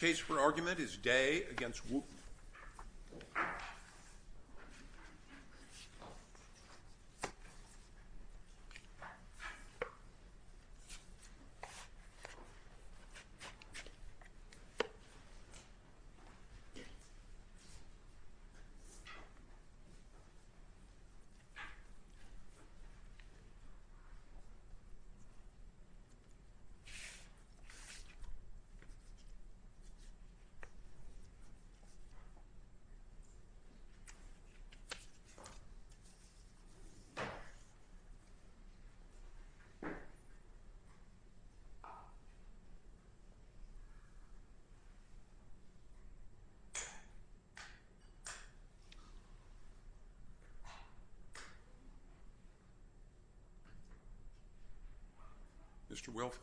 The case for argument is Day v. Wooten. Mr. Wilfontek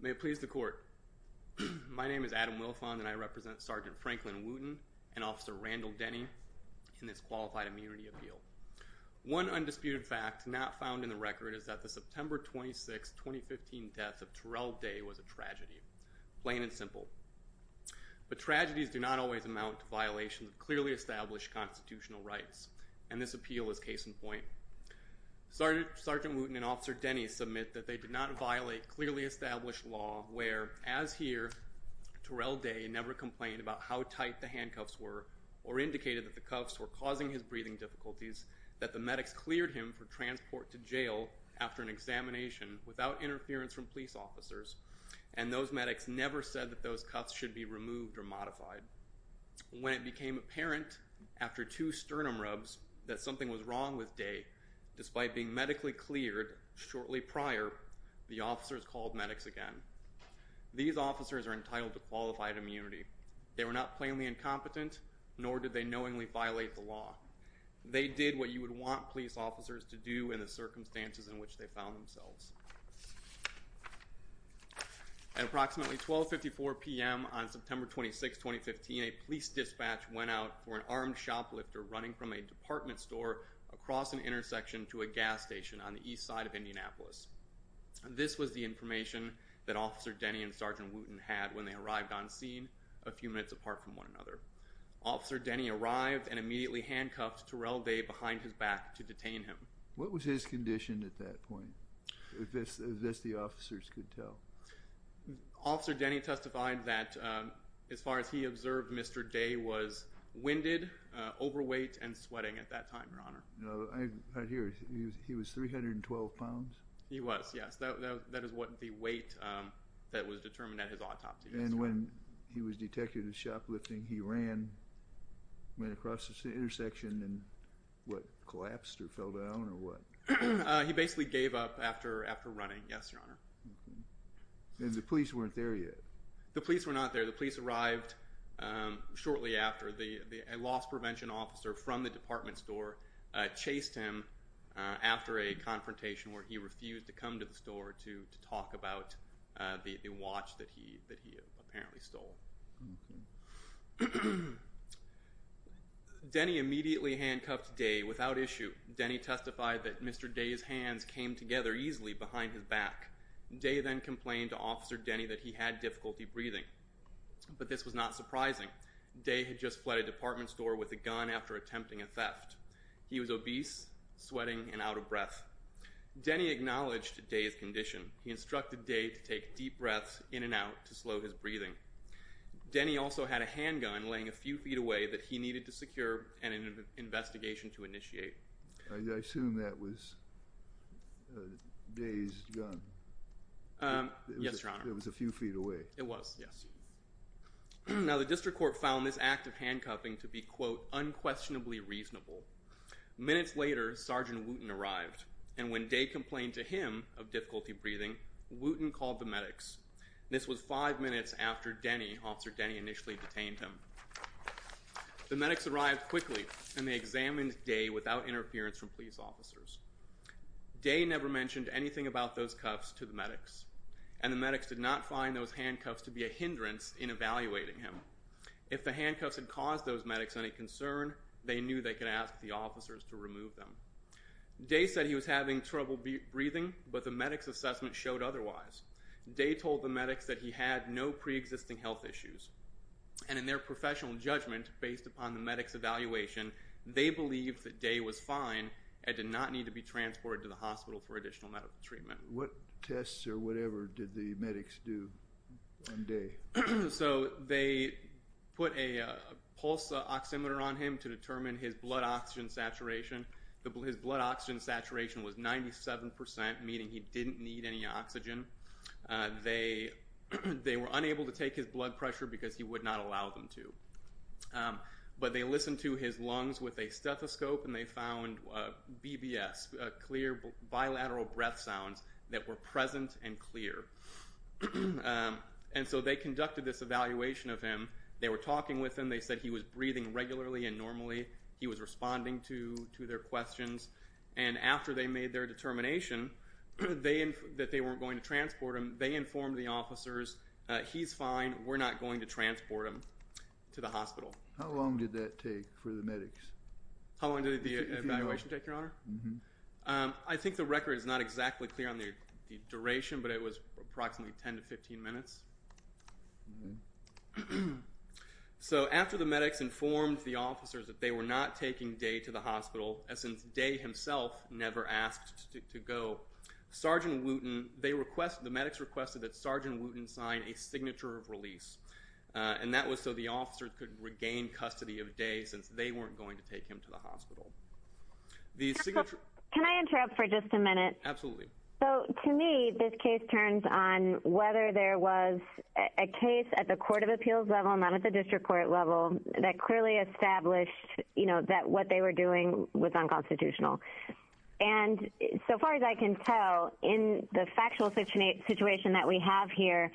May it please the court. My name is Adam Wilfontek and I represent Sgt. Wooten and Sgt. Denny did not approve the 2015 certified immunity appeal. One undisputed fact not found in the record is that the September 26th 2015 death of Terrell Day was a tragedy. Plain and simple. But tragedies do not always amount to violations of clearly established constitutional rights and this appeal is case in point. Sgt. Wooten and Officer Denny submit that they did not violate clearly established law where as here Terrell Day never complained about how tight the handcuffs were or indicated that the cuffs were causing his breathing difficulties, that the medics cleared him for transport to jail after an examination without interference from police officers and those medics never said that those cuffs should be removed or modified. When it became apparent after two sternum rubs that something was wrong with Day, despite being medically cleared shortly prior, the officers called medics again. These officers are entitled to qualified immunity. They were not plainly incompetent nor did they knowingly violate the law. They did what you would want police officers to do in the circumstances in which they found themselves. At approximately 1254 p.m. on September 26th 2015, a police dispatch went out for an armed shoplifter running from a department store across an intersection to a gas station on the east side of Indianapolis. This was the information that Officer Denny and Sergeant Wooten had when they arrived on scene a few minutes apart from one another. Officer Denny arrived and immediately handcuffed Terrell Day behind his back to detain him. What was his condition at that point? If this the officers could tell. Officer Denny testified that as far as he observed, Mr. Day was winded, overweight, and sweating at that time, your honor. I hear he was 312 pounds? He was, yes. That is what the weight that was determined at his autopsy. And when he was detected as shoplifting, he ran, went across the intersection and what, collapsed or fell down or what? He basically gave up after running, yes, your honor. And the police weren't there yet? The police were not there. The police arrived shortly after. A loss prevention officer from the department store chased him after a confrontation where he refused to come to the store to talk about the watch that he apparently stole. Denny immediately handcuffed Day without issue. Denny testified that Mr. Day's hands came together easily behind his back. Day then complained to Officer Denny that he had difficulty breathing. But this was not surprising. Day had just fled a department store with a gun after attempting a theft. He was obese, sweating, and out of breath. Denny acknowledged Day's condition. He instructed Day to take deep breaths in and out to slow his breathing. Denny also had a handgun laying a few feet away that he needed to secure and an investigation to initiate. I assume that was Day's gun. Yes, your honor. It was a few feet away. It was, yes. Now, the district court found this act of handcuffing to be, quote, unquestionably reasonable. Minutes later, Sergeant Wooten arrived. And when Day complained to him of difficulty breathing, Wooten called the medics. This was five minutes after Denny, Officer Denny initially detained him. The medics arrived quickly, and they examined Day without interference from police officers. Day never mentioned anything about those cuffs to the medics. And the medics did not find those handcuffs to be a hindrance in evaluating him. If the handcuffs had caused those medics any concern, they knew they could ask the officers to remove them. Day said he was having trouble breathing, but the medics' assessment showed otherwise. Day told the medics that he had no preexisting health issues. And in their professional judgment, based upon the medics' evaluation, they believed that Day was fine and did not need to be transported to the hospital for additional medical treatment. What tests or whatever did the medics do on Day? So they put a pulse oximeter on him to determine his blood oxygen saturation. His blood oxygen saturation was 97%, meaning he didn't need any oxygen. They were unable to take his blood pressure because he would not allow them to. But they listened to his lungs with a stethoscope, and they found BBS, clear bilateral breath sounds that were present and clear. And so they conducted this evaluation of him. They were talking with him. They said he was breathing regularly and normally. He was responding to their questions. And after they made their determination that they weren't going to transport him, they informed the officers, he's fine, we're not going to transport him to the hospital. How long did that take for the medics? How long did the evaluation take, Your Honor? I think the record is not exactly clear on the duration, but it was approximately 10 to 15 minutes. So after the medics informed the officers that they were not taking Day to the hospital, as in Day himself never asked to go, Sergeant Wooten, they requested, the medics requested that Sergeant Wooten sign a signature of release. And that was so the officers could regain custody of Day since they weren't going to take him to the hospital. Can I interrupt for just a minute? Absolutely. So, to me, this case turns on whether there was a case at the court of appeals level, not at the district court level, that clearly established that what they were doing was unconstitutional. And, so far as I can tell, in the factual situation that we have here,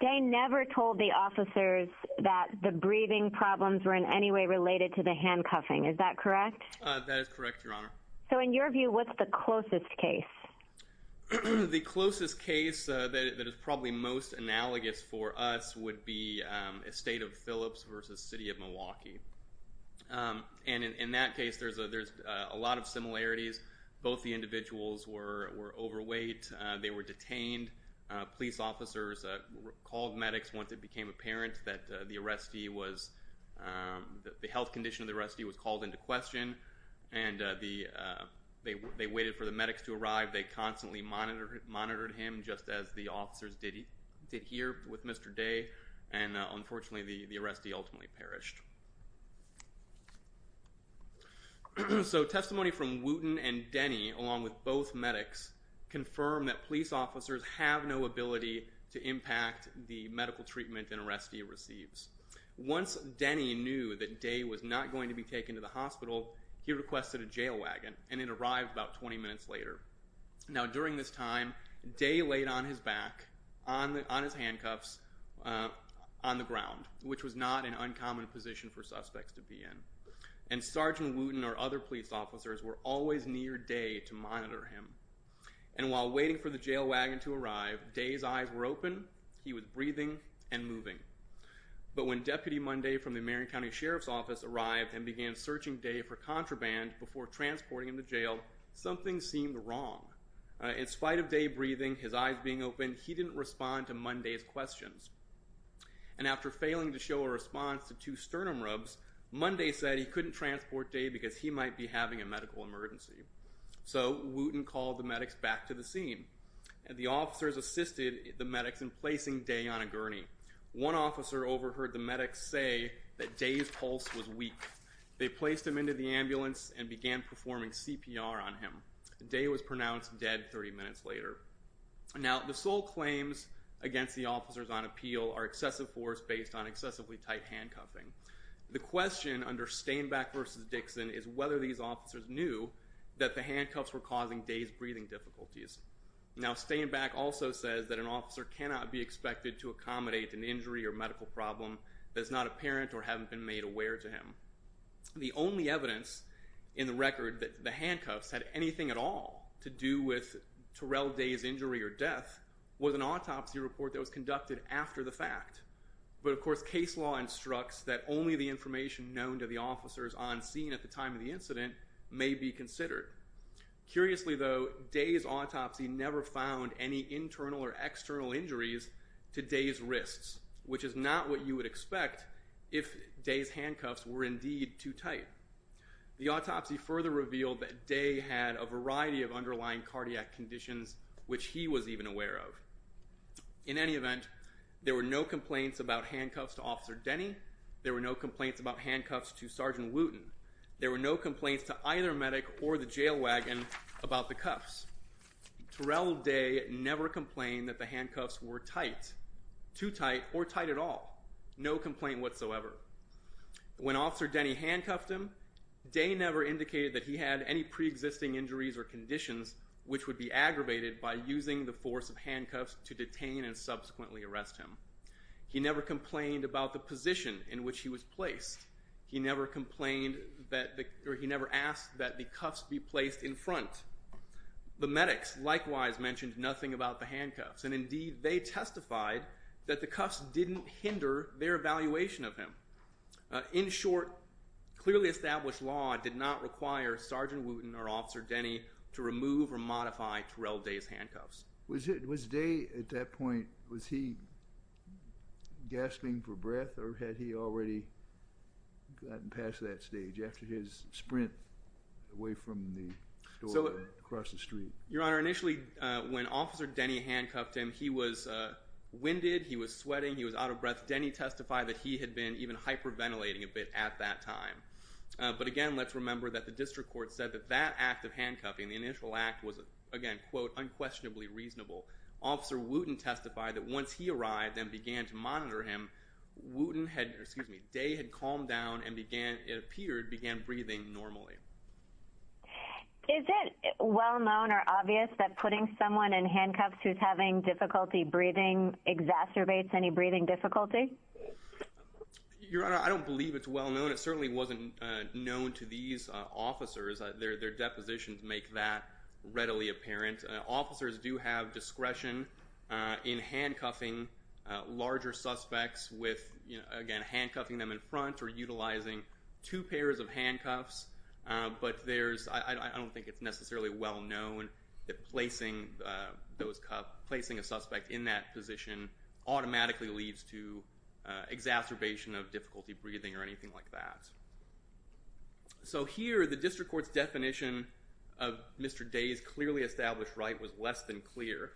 Day never told the officers that the breathing problems were in any way related to the handcuffing, is that correct? That is correct, Your Honor. So, in your view, what's the closest case? The closest case that is probably most analogous for us would be Estate of Phillips versus City of Milwaukee. And in that case, there's a lot of similarities. Both the individuals were overweight, they were detained, police officers called medics once it became apparent that the arrestee was, the health condition of the arrestee was called into question, and they waited for the medics to arrive. They constantly monitored him, just as the officers did here with Mr. Day, and, unfortunately, the arrestee ultimately perished. So testimony from Wooten and Denny, along with both medics, confirm that police officers have no ability to impact the medical treatment an arrestee receives. Once Denny knew that Day was not going to be taken to the hospital, he requested a jail wagon, and it arrived about 20 minutes later. Now during this time, Day laid on his back, on his handcuffs, on the ground, which was not an uncommon position for suspects to be in. And Sergeant Wooten or other police officers were always near Day to monitor him. And while waiting for the jail wagon to arrive, Day's eyes were open, he was breathing, and But when Deputy Monday from the Marion County Sheriff's Office arrived and began searching Day for contraband before transporting him to jail, something seemed wrong. In spite of Day breathing, his eyes being open, he didn't respond to Monday's questions. And after failing to show a response to two sternum rubs, Monday said he couldn't transport Day because he might be having a medical emergency. So Wooten called the medics back to the scene. The officers assisted the medics in placing Day on a gurney. One officer overheard the medics say that Day's pulse was weak. They placed him into the ambulance and began performing CPR on him. Day was pronounced dead 30 minutes later. Now the sole claims against the officers on appeal are excessive force based on excessively tight handcuffing. The question under Stainback versus Dixon is whether these officers knew that the handcuffs were causing Day's breathing difficulties. Now Stainback also says that an officer cannot be expected to accommodate an injury or medical problem that is not apparent or haven't been made aware to him. The only evidence in the record that the handcuffs had anything at all to do with Terrell Day's injury or death was an autopsy report that was conducted after the fact. But of course case law instructs that only the information known to the officers on scene at the time of the incident may be considered. Curiously though, Day's autopsy never found any internal or external injuries to Day's wrists, which is not what you would expect if Day's handcuffs were indeed too tight. The autopsy further revealed that Day had a variety of underlying cardiac conditions which he was even aware of. In any event, there were no complaints about handcuffs to Officer Denny. There were no complaints about handcuffs to Sergeant Wooten. There were no complaints to either medic or the jail wagon about the cuffs. Terrell Day never complained that the handcuffs were tight, too tight or tight at all. No complaint whatsoever. When Officer Denny handcuffed him, Day never indicated that he had any pre-existing injuries or conditions which would be aggravated by using the force of handcuffs to detain and subsequently arrest him. He never complained about the position in which he was placed. He never complained that, or he never asked that the cuffs be placed in front. The medics likewise mentioned nothing about the handcuffs, and indeed they testified that the cuffs didn't hinder their evaluation of him. In short, clearly established law did not require Sergeant Wooten or Officer Denny to remove or modify Terrell Day's handcuffs. Was Day, at that point, was he gasping for breath or had he already gotten past that stage after his sprint away from the store or across the street? Your Honor, initially when Officer Denny handcuffed him, he was winded, he was sweating, he was out of breath. Denny testified that he had been even hyperventilating a bit at that time. But again, let's remember that the district court said that that act of handcuffing, the Officer Wooten testified that once he arrived and began to monitor him, Day had calmed down and began, it appeared, began breathing normally. Is it well known or obvious that putting someone in handcuffs who's having difficulty breathing exacerbates any breathing difficulty? Your Honor, I don't believe it's well known. It certainly wasn't known to these officers. Their depositions make that readily apparent. Officers do have discretion in handcuffing larger suspects with, again, handcuffing them in front or utilizing two pairs of handcuffs. But I don't think it's necessarily well known that placing a suspect in that position automatically leads to exacerbation of difficulty breathing or anything like that. So here, the district court's definition of Mr. Day's clearly established right was less than clear.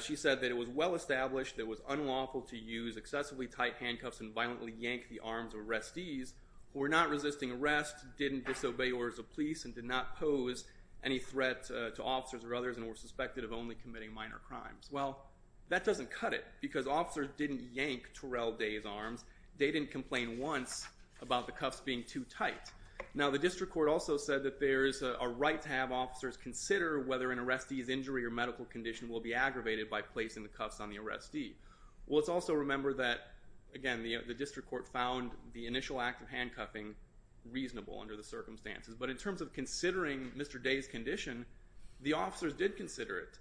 She said that it was well established that it was unlawful to use excessively tight handcuffs and violently yank the arms of arrestees who were not resisting arrest, didn't disobey orders of police, and did not pose any threat to officers or others, and were suspected of only committing minor crimes. Well, that doesn't cut it because officers didn't yank Terrell Day's arms. Day didn't complain once about the cuffs being too tight. Now, the district court also said that there is a right to have officers consider whether an arrestee's injury or medical condition will be aggravated by placing the cuffs on the arrestee. Well, let's also remember that, again, the district court found the initial act of handcuffing reasonable under the circumstances. But in terms of considering Mr. Day's condition, the officers did consider it.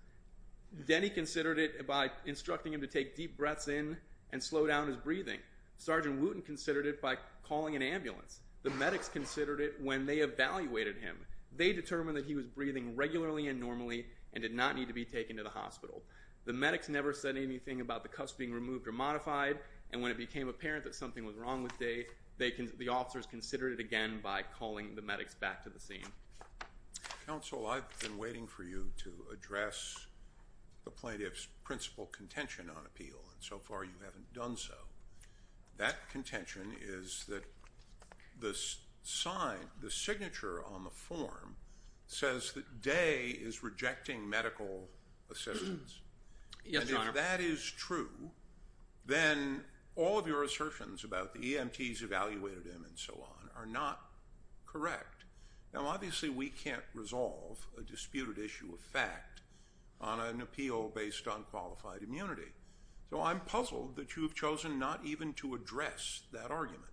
Denny considered it by instructing him to take deep breaths in and slow down his breathing. Sergeant Wooten considered it by calling an ambulance. The medics considered it when they evaluated him. They determined that he was breathing regularly and normally and did not need to be taken to the hospital. The medics never said anything about the cuffs being removed or modified, and when it became apparent that something was wrong with Day, the officers considered it again by calling the medics back to the scene. Counsel, I've been waiting for you to address the plaintiff's principal contention on appeal, and so far you haven't done so. That contention is that the sign, the signature on the form says that Day is rejecting medical assistance. Yes, Your Honor. And if that is true, then all of your assertions about the EMTs evaluated him and so on are not correct. Now obviously we can't resolve a disputed issue of fact on an appeal based on qualified immunity, so I'm puzzled that you've chosen not even to address that argument.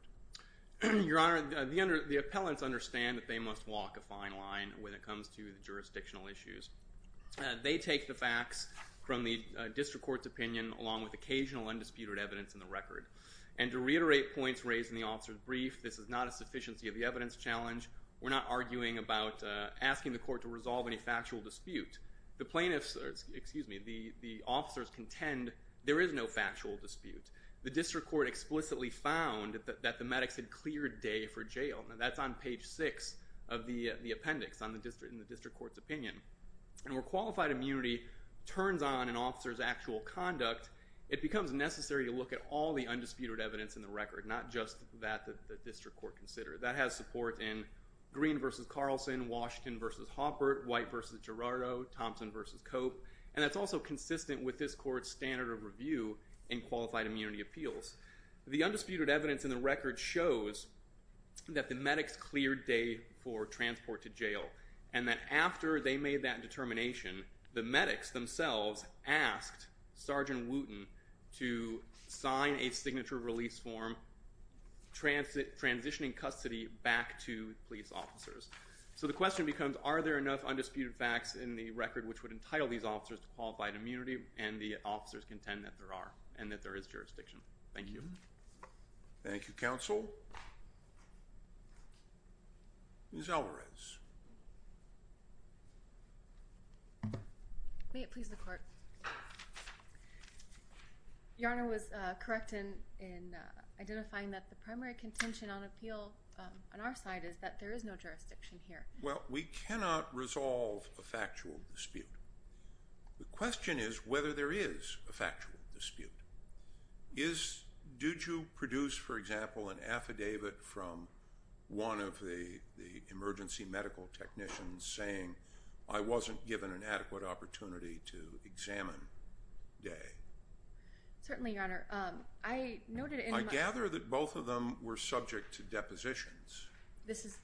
Your Honor, the appellants understand that they must walk a fine line when it comes to jurisdictional issues. They take the facts from the district court's opinion along with occasional undisputed evidence in the record, and to reiterate points raised in the officer's brief, this is not a sufficiency of the evidence challenge. We're not arguing about asking the court to resolve any factual dispute. The plaintiffs, excuse me, the officers contend there is no factual dispute. The district court explicitly found that the medics had cleared Day for jail, and that's on page 6 of the appendix in the district court's opinion, and where qualified immunity turns on an officer's actual conduct, it becomes necessary to look at all the undisputed evidence in the record, not just that the district court considered. That has support in Green v. Carlson, Washington v. Hoppert, White v. Gerardo, Thompson v. Cope, and that's also consistent with this court's standard of review in qualified immunity appeals. The undisputed evidence in the record shows that the medics cleared Day for transport to jail, and that after they made that determination, the medics themselves asked Sergeant Wooten to sign a signature release form transitioning custody back to police officers. So the question becomes, are there enough undisputed facts in the record which would entitle these officers to qualified immunity, and the officers contend that there are, and that there is jurisdiction. Thank you. Thank you, counsel. Ms. Alvarez. May it please the court. Your Honor was correct in identifying that the primary contention on appeal on our side is that there is no jurisdiction here. Well, we cannot resolve a factual dispute. The question is whether there is a factual dispute. Did you produce, for example, an affidavit from one of the emergency medical technicians saying, I wasn't given an adequate opportunity to examine Day? Certainly, Your Honor. I noted in my- I gather that both of them were subject to depositions.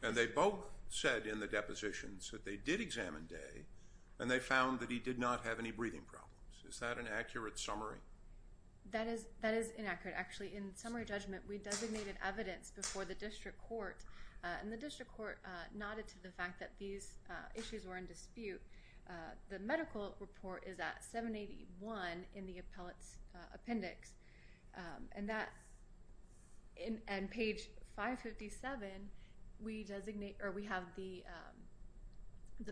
And they both said in the depositions that they did examine Day, and they found that he did not have any breathing problems. Is that an accurate summary? That is inaccurate, actually. In summary judgment, we designated evidence before the district court, and the district court nodded to the fact that these issues were in dispute. The medical report is at 781 in the appellate's appendix. And that's, and page 557, we designate, or we have the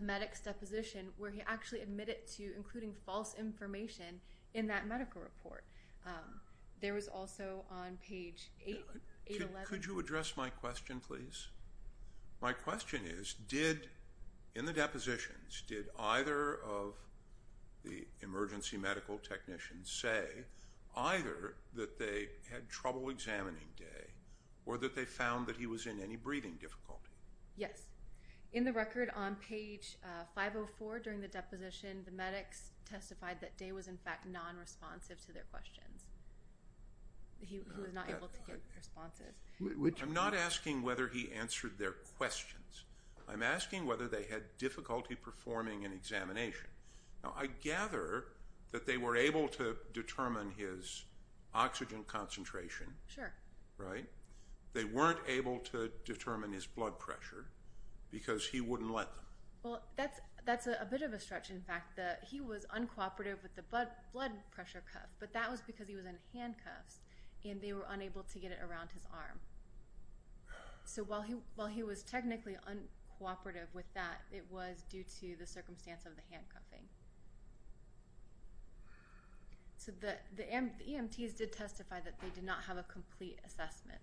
medic's deposition where he actually admitted to including false information in that medical report. There was also on page 811- My question is, did, in the depositions, did either of the emergency medical technicians say either that they had trouble examining Day, or that they found that he was in any breathing difficulty? Yes. In the record on page 504 during the deposition, the medics testified that Day was in fact non-responsive to their questions. He was not able to get responsive. I'm not asking whether he answered their questions. I'm asking whether they had difficulty performing an examination. Now, I gather that they were able to determine his oxygen concentration, right? They weren't able to determine his blood pressure, because he wouldn't let them. Well, that's a bit of a stretch, in fact, that he was uncooperative with the blood pressure cuff, but that was because he was in handcuffs, and they were unable to get it around his arm. So while he was technically uncooperative with that, it was due to the circumstance of the handcuffing. So the EMTs did testify that they did not have a complete assessment.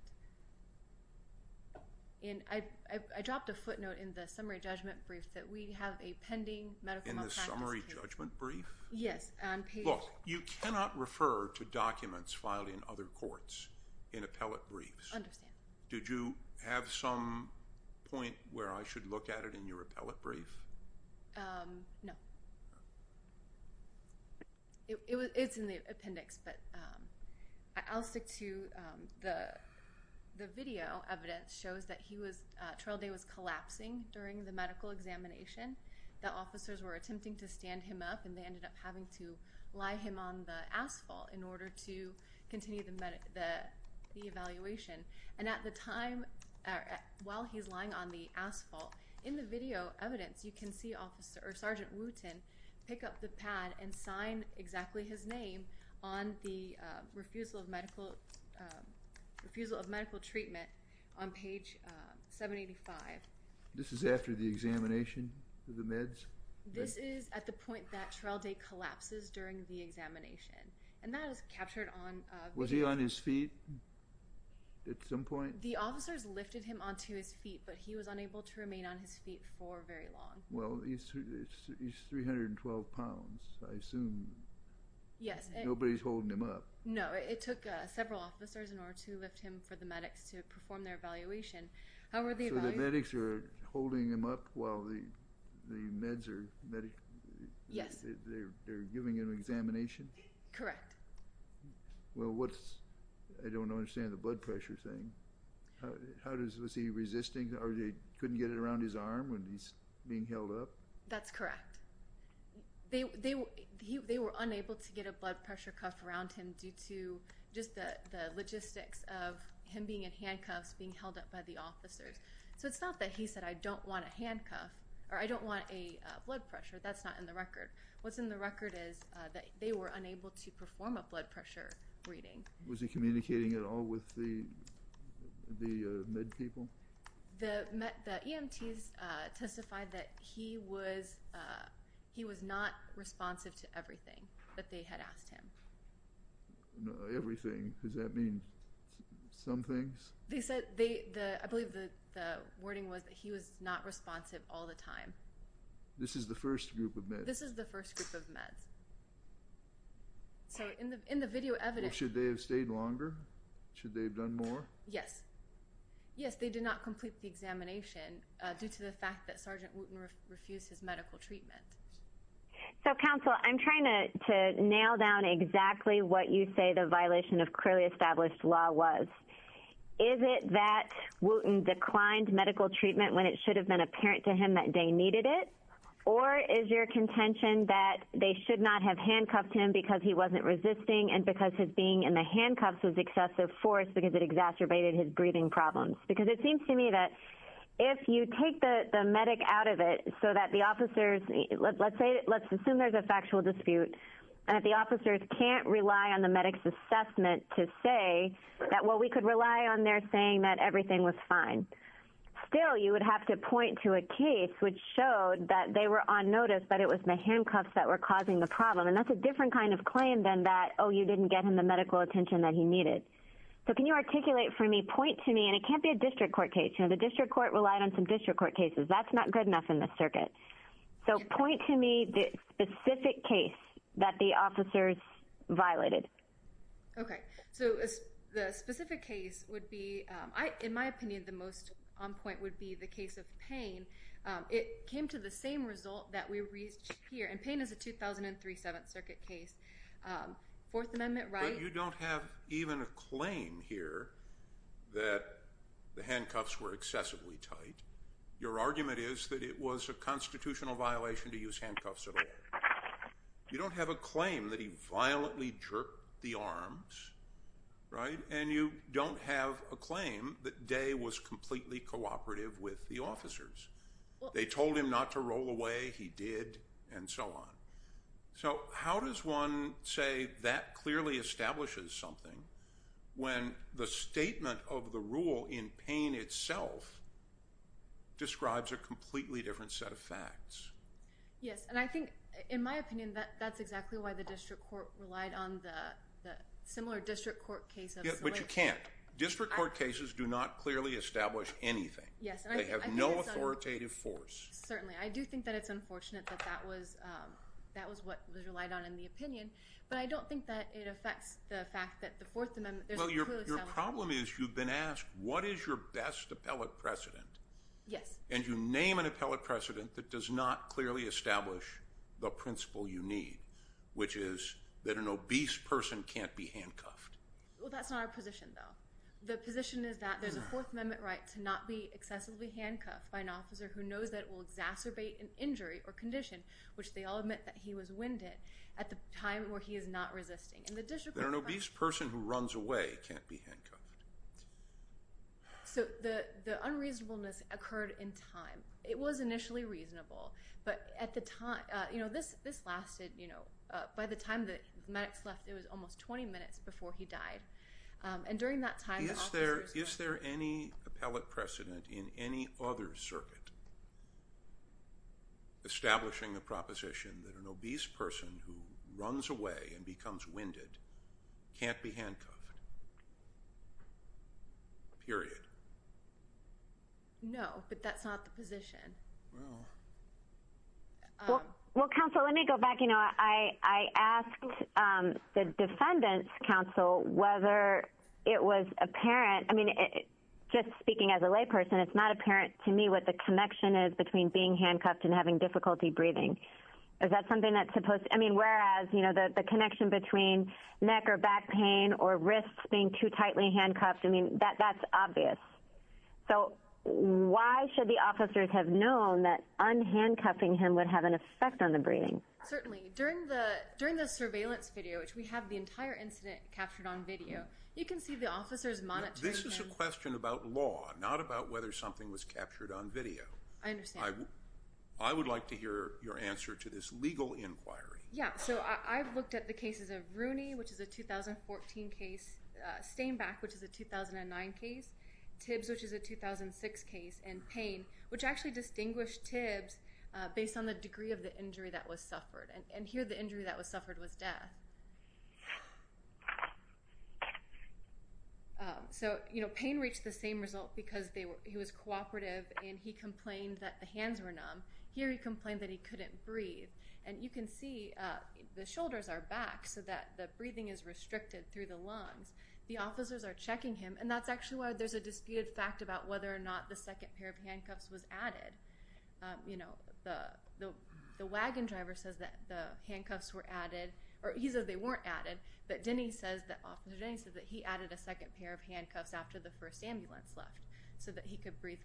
And I dropped a footnote in the summary judgment brief that we have a pending medical malpractice case. In the summary judgment brief? Yes, on page- Look, you cannot refer to documents filed in other courts in appellate briefs. I understand. Did you have some point where I should look at it in your appellate brief? No. It's in the appendix, but I'll stick to the video evidence shows that he was, Trail Day was collapsing during the medical examination. The officers were attempting to stand him up, and they ended up having to lie him on the asphalt in order to continue the evaluation. And at the time, while he's lying on the asphalt, in the video evidence, you can see Sergeant Wooten pick up the pad and sign exactly his name on the refusal of medical treatment on page 785. This is after the examination of the meds? This is at the point that Trail Day collapses during the examination. And that was captured on- Was he on his feet at some point? The officers lifted him onto his feet, but he was unable to remain on his feet for very long. Well, he's 312 pounds. I assume nobody's holding him up. No, it took several officers in order to lift him for the medics to perform their evaluation. So the medics are holding him up while the meds are- Yes. They're giving an examination? Correct. Well, what's- I don't understand the blood pressure thing. How does- was he resisting, or they couldn't get it around his arm when he's being held up? That's correct. They were unable to get a blood pressure cuff around him due to just the logistics of him being in handcuffs, being held up by the officers. So it's not that he said, I don't want a handcuff, or I don't want a blood pressure. That's not in the record. What's in the record is that they were unable to perform a blood pressure reading. Was he communicating at all with the med people? The EMTs testified that he was not responsive to everything that they had asked him. Everything? Does that mean some things? They said- I believe the wording was that he was not responsive all the time. This is the first group of meds? This is the first group of meds. So in the video evidence- Should they have stayed longer? Should they have done more? Yes. Yes, they did not complete the examination due to the fact that Sergeant Wooten refused his medical treatment. So, Counsel, I'm trying to nail down exactly what you say the violation of clearly established law was. Is it that Wooten declined medical treatment when it should have been apparent to him that they needed it? Or is your contention that they should not have handcuffed him because he wasn't resisting and because his being in the handcuffs was excessive force because it exacerbated his breathing problems? Because it seems to me that if you take the medic out of it so that the officers- Let's assume there's a factual dispute and the officers can't rely on the medic's assessment to say that, well, we could rely on their saying that everything was fine. Still, you would have to point to a case which showed that they were on notice that it was the handcuffs that were causing the problem. And that's a different kind of claim than that, oh, you didn't get him the medical attention that he needed. So, can you articulate for me, point to me, and it can't be a district court case. You know, the district court relied on some district court cases. That's not good enough in the circuit. So, point to me the specific case that the officers violated. Okay. So, the specific case would be, in my opinion, the most on point would be the case of Payne. It came to the same result that we reached here. And Payne is a 2003 Seventh Circuit case. Fourth Amendment rights- But you don't have even a claim here that the handcuffs were excessively tight. Your argument is that it was a constitutional violation to use handcuffs at all. You don't have a claim that he violently jerked the arms, right? And you don't have a claim that Day was completely cooperative with the officers. They told him not to roll away, he did, and so on. So, how does one say that clearly establishes something when the statement of the rule in Payne itself describes a completely different set of facts? Yes, and I think, in my opinion, that's exactly why the district court relied on the similar district court cases. But you can't. District court cases do not clearly establish anything. They have no authoritative force. Certainly. I do think that it's unfortunate that that was what was relied on in the opinion. But I don't think that it affects the fact that the Fourth Amendment- Well, your problem is you've been asked, what is your best appellate precedent? Yes. And you name an appellate precedent that does not clearly establish the principle you need, which is that an obese person can't be handcuffed. Well, that's not our position, though. The position is that there's a Fourth Amendment right to not be excessively handcuffed by an officer who knows that it will exacerbate an injury or condition, which they all admit that he was winded, at the time where he is not resisting. And the district court- That an obese person who runs away can't be handcuffed. So, the unreasonableness occurred in time. It was initially reasonable, but at the time- You know, this lasted, you know, by the time the medics left, it was almost 20 minutes before he died. And during that time- Is there any appellate precedent in any other circuit establishing the proposition that an obese person who runs away and becomes winded can't be handcuffed? Period. No, but that's not the position. Well, counsel, let me go back. You know, I asked the defendant's counsel whether it was apparent- I mean, just speaking as a layperson, it's not apparent to me what the connection is between being handcuffed and having difficulty breathing. Is that something that's supposed- I mean, whereas, you know, the connection between neck or back pain or wrists being too tightly handcuffed, I mean, that's obvious. So, why should the officers have known that unhandcuffing him would have an effect on the breathing? Certainly. During the surveillance video, which we have the entire incident captured on video, you can see the officers monitoring- This is a question about law, not about whether something was captured on video. I understand. I would like to hear your answer to this legal inquiry. Yeah, so I've looked at the cases of Rooney, which is a 2014 case, Stainback, which is a 2009 case, Tibbs, which is a 2006 case, and Payne, which actually distinguished Tibbs based on the degree of the injury that was suffered. And here, the injury that was suffered was death. So, you know, Payne reached the same result because he was cooperative and he complained that the hands were numb. Here, he complained that he couldn't breathe. And you can see the shoulders are back so that the breathing is restricted through the lungs. The officers are checking him, and that's actually why there's a disputed fact about whether or not the second pair of handcuffs was added. You know, the wagon driver says that the handcuffs were added, or he says they weren't added, but Denny says that, Officer Denny says that he added a second pair of handcuffs after the first ambulance left so that he could breathe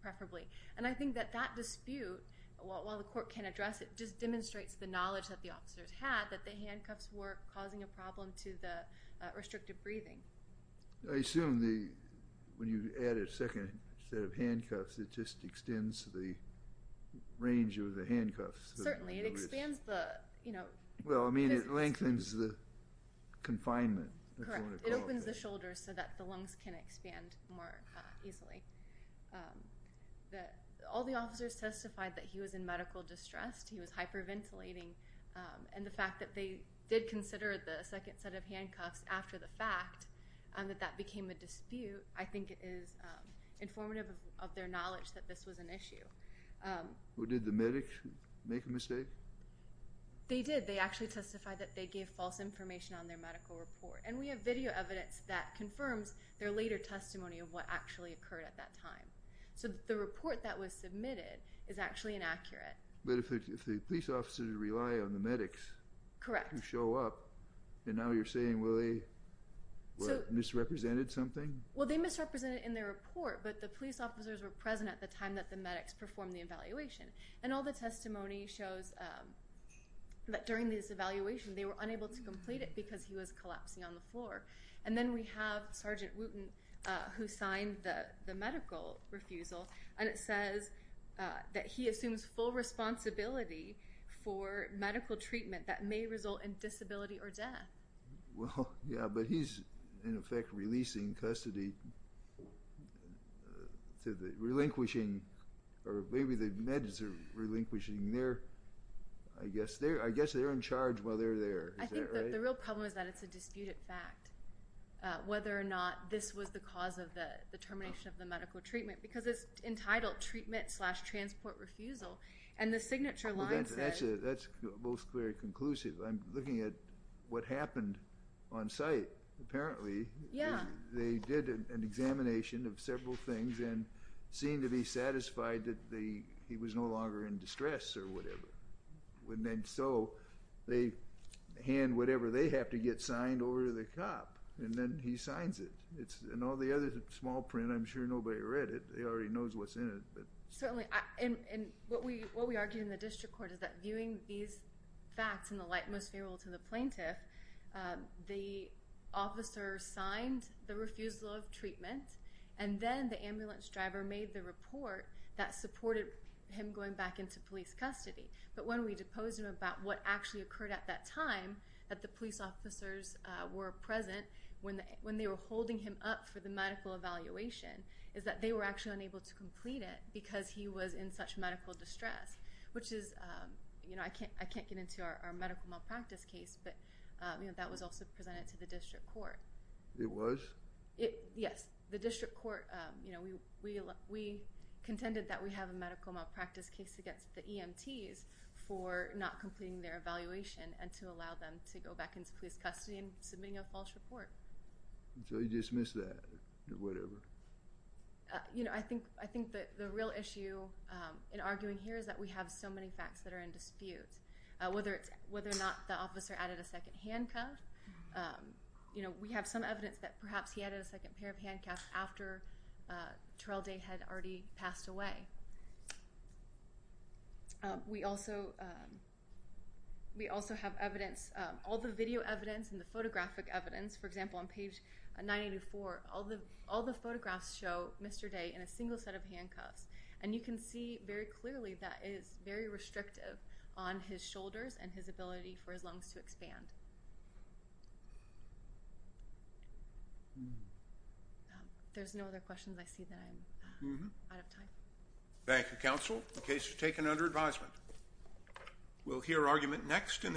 preferably. And I think that that dispute, while the court can address it, just demonstrates the knowledge that the officers had, that the handcuffs were causing a problem to the restricted breathing. I assume that when you add a second set of handcuffs, it just extends the range of the handcuffs. Certainly. It expands the, you know... Well, I mean, it lengthens the confinement. Correct. It opens the shoulders so that the lungs can expand more easily. All the officers testified that he was in medical distress, he was hyperventilating, and the fact that they did consider the second set of handcuffs after the fact, that that became a dispute, I think is informative of their knowledge that this was an issue. Did the medics make a mistake? They did. They actually testified that they gave false information on their medical report. And we have video evidence that confirms their later testimony of what actually occurred at that time. So the report that was submitted is actually inaccurate. But if the police officers rely on the medics... Correct. ...to show up, and now you're saying, well, they misrepresented something? Well, they misrepresented in their report, but the police officers were present at the time that the medics performed the evaluation. And all the testimony shows that during this evaluation, they were unable to complete it because he was collapsing on the floor. And then we have Sergeant Wooten, who signed the medical refusal, and it says that he assumes full responsibility for medical treatment that may result in disability or death. Well, yeah, but he's, in effect, releasing custody, relinquishing, or maybe the medics are relinquishing. I guess they're in charge while they're there. Is that right? I think the real problem is that it's a disputed fact, whether or not this was the cause of the termination of the medical treatment, because it's entitled treatment slash transport refusal. And the signature line says... That's most very conclusive. I'm looking at what happened on site, apparently. They did an examination of several things and seemed to be satisfied that he was no longer in distress or whatever. And so they hand whatever they have to get signed over to the cop, and then he signs it. And all the other small print, I'm sure nobody read it. They already know what's in it. Certainly, and what we argue in the district court is that viewing these facts in the light most favorable to the plaintiff, the officer signed the refusal of treatment, and then the ambulance driver made the report that supported him going back into police custody. But when we deposed him about what actually occurred at that time, that the police officers were present when they were holding him up for the medical evaluation, is that they were actually unable to complete it because he was in such medical distress, which is, I can't get into our medical malpractice case, but that was also presented to the district court. It was? Yes. The district court, we contended that we have a medical malpractice case against the EMTs for not completing their evaluation and to allow them to go back into police custody and submitting a false report. So you dismiss that or whatever? You know, I think the real issue in arguing here is that we have so many facts that are in dispute. Whether or not the officer added a second handcuff, you know, we have some evidence that perhaps he added a second pair of handcuffs after Terrell Day had already passed away. We also have evidence, all the video evidence and the photographic evidence, for example on page 984, all the photographs show Mr. Day in a single set of handcuffs. And you can see very clearly that it is very restrictive on his shoulders and his ability for his lungs to expand. There's no other questions, I see that I'm out of time. Thank you, counsel. The case is taken under advisement. We'll hear argument next in the...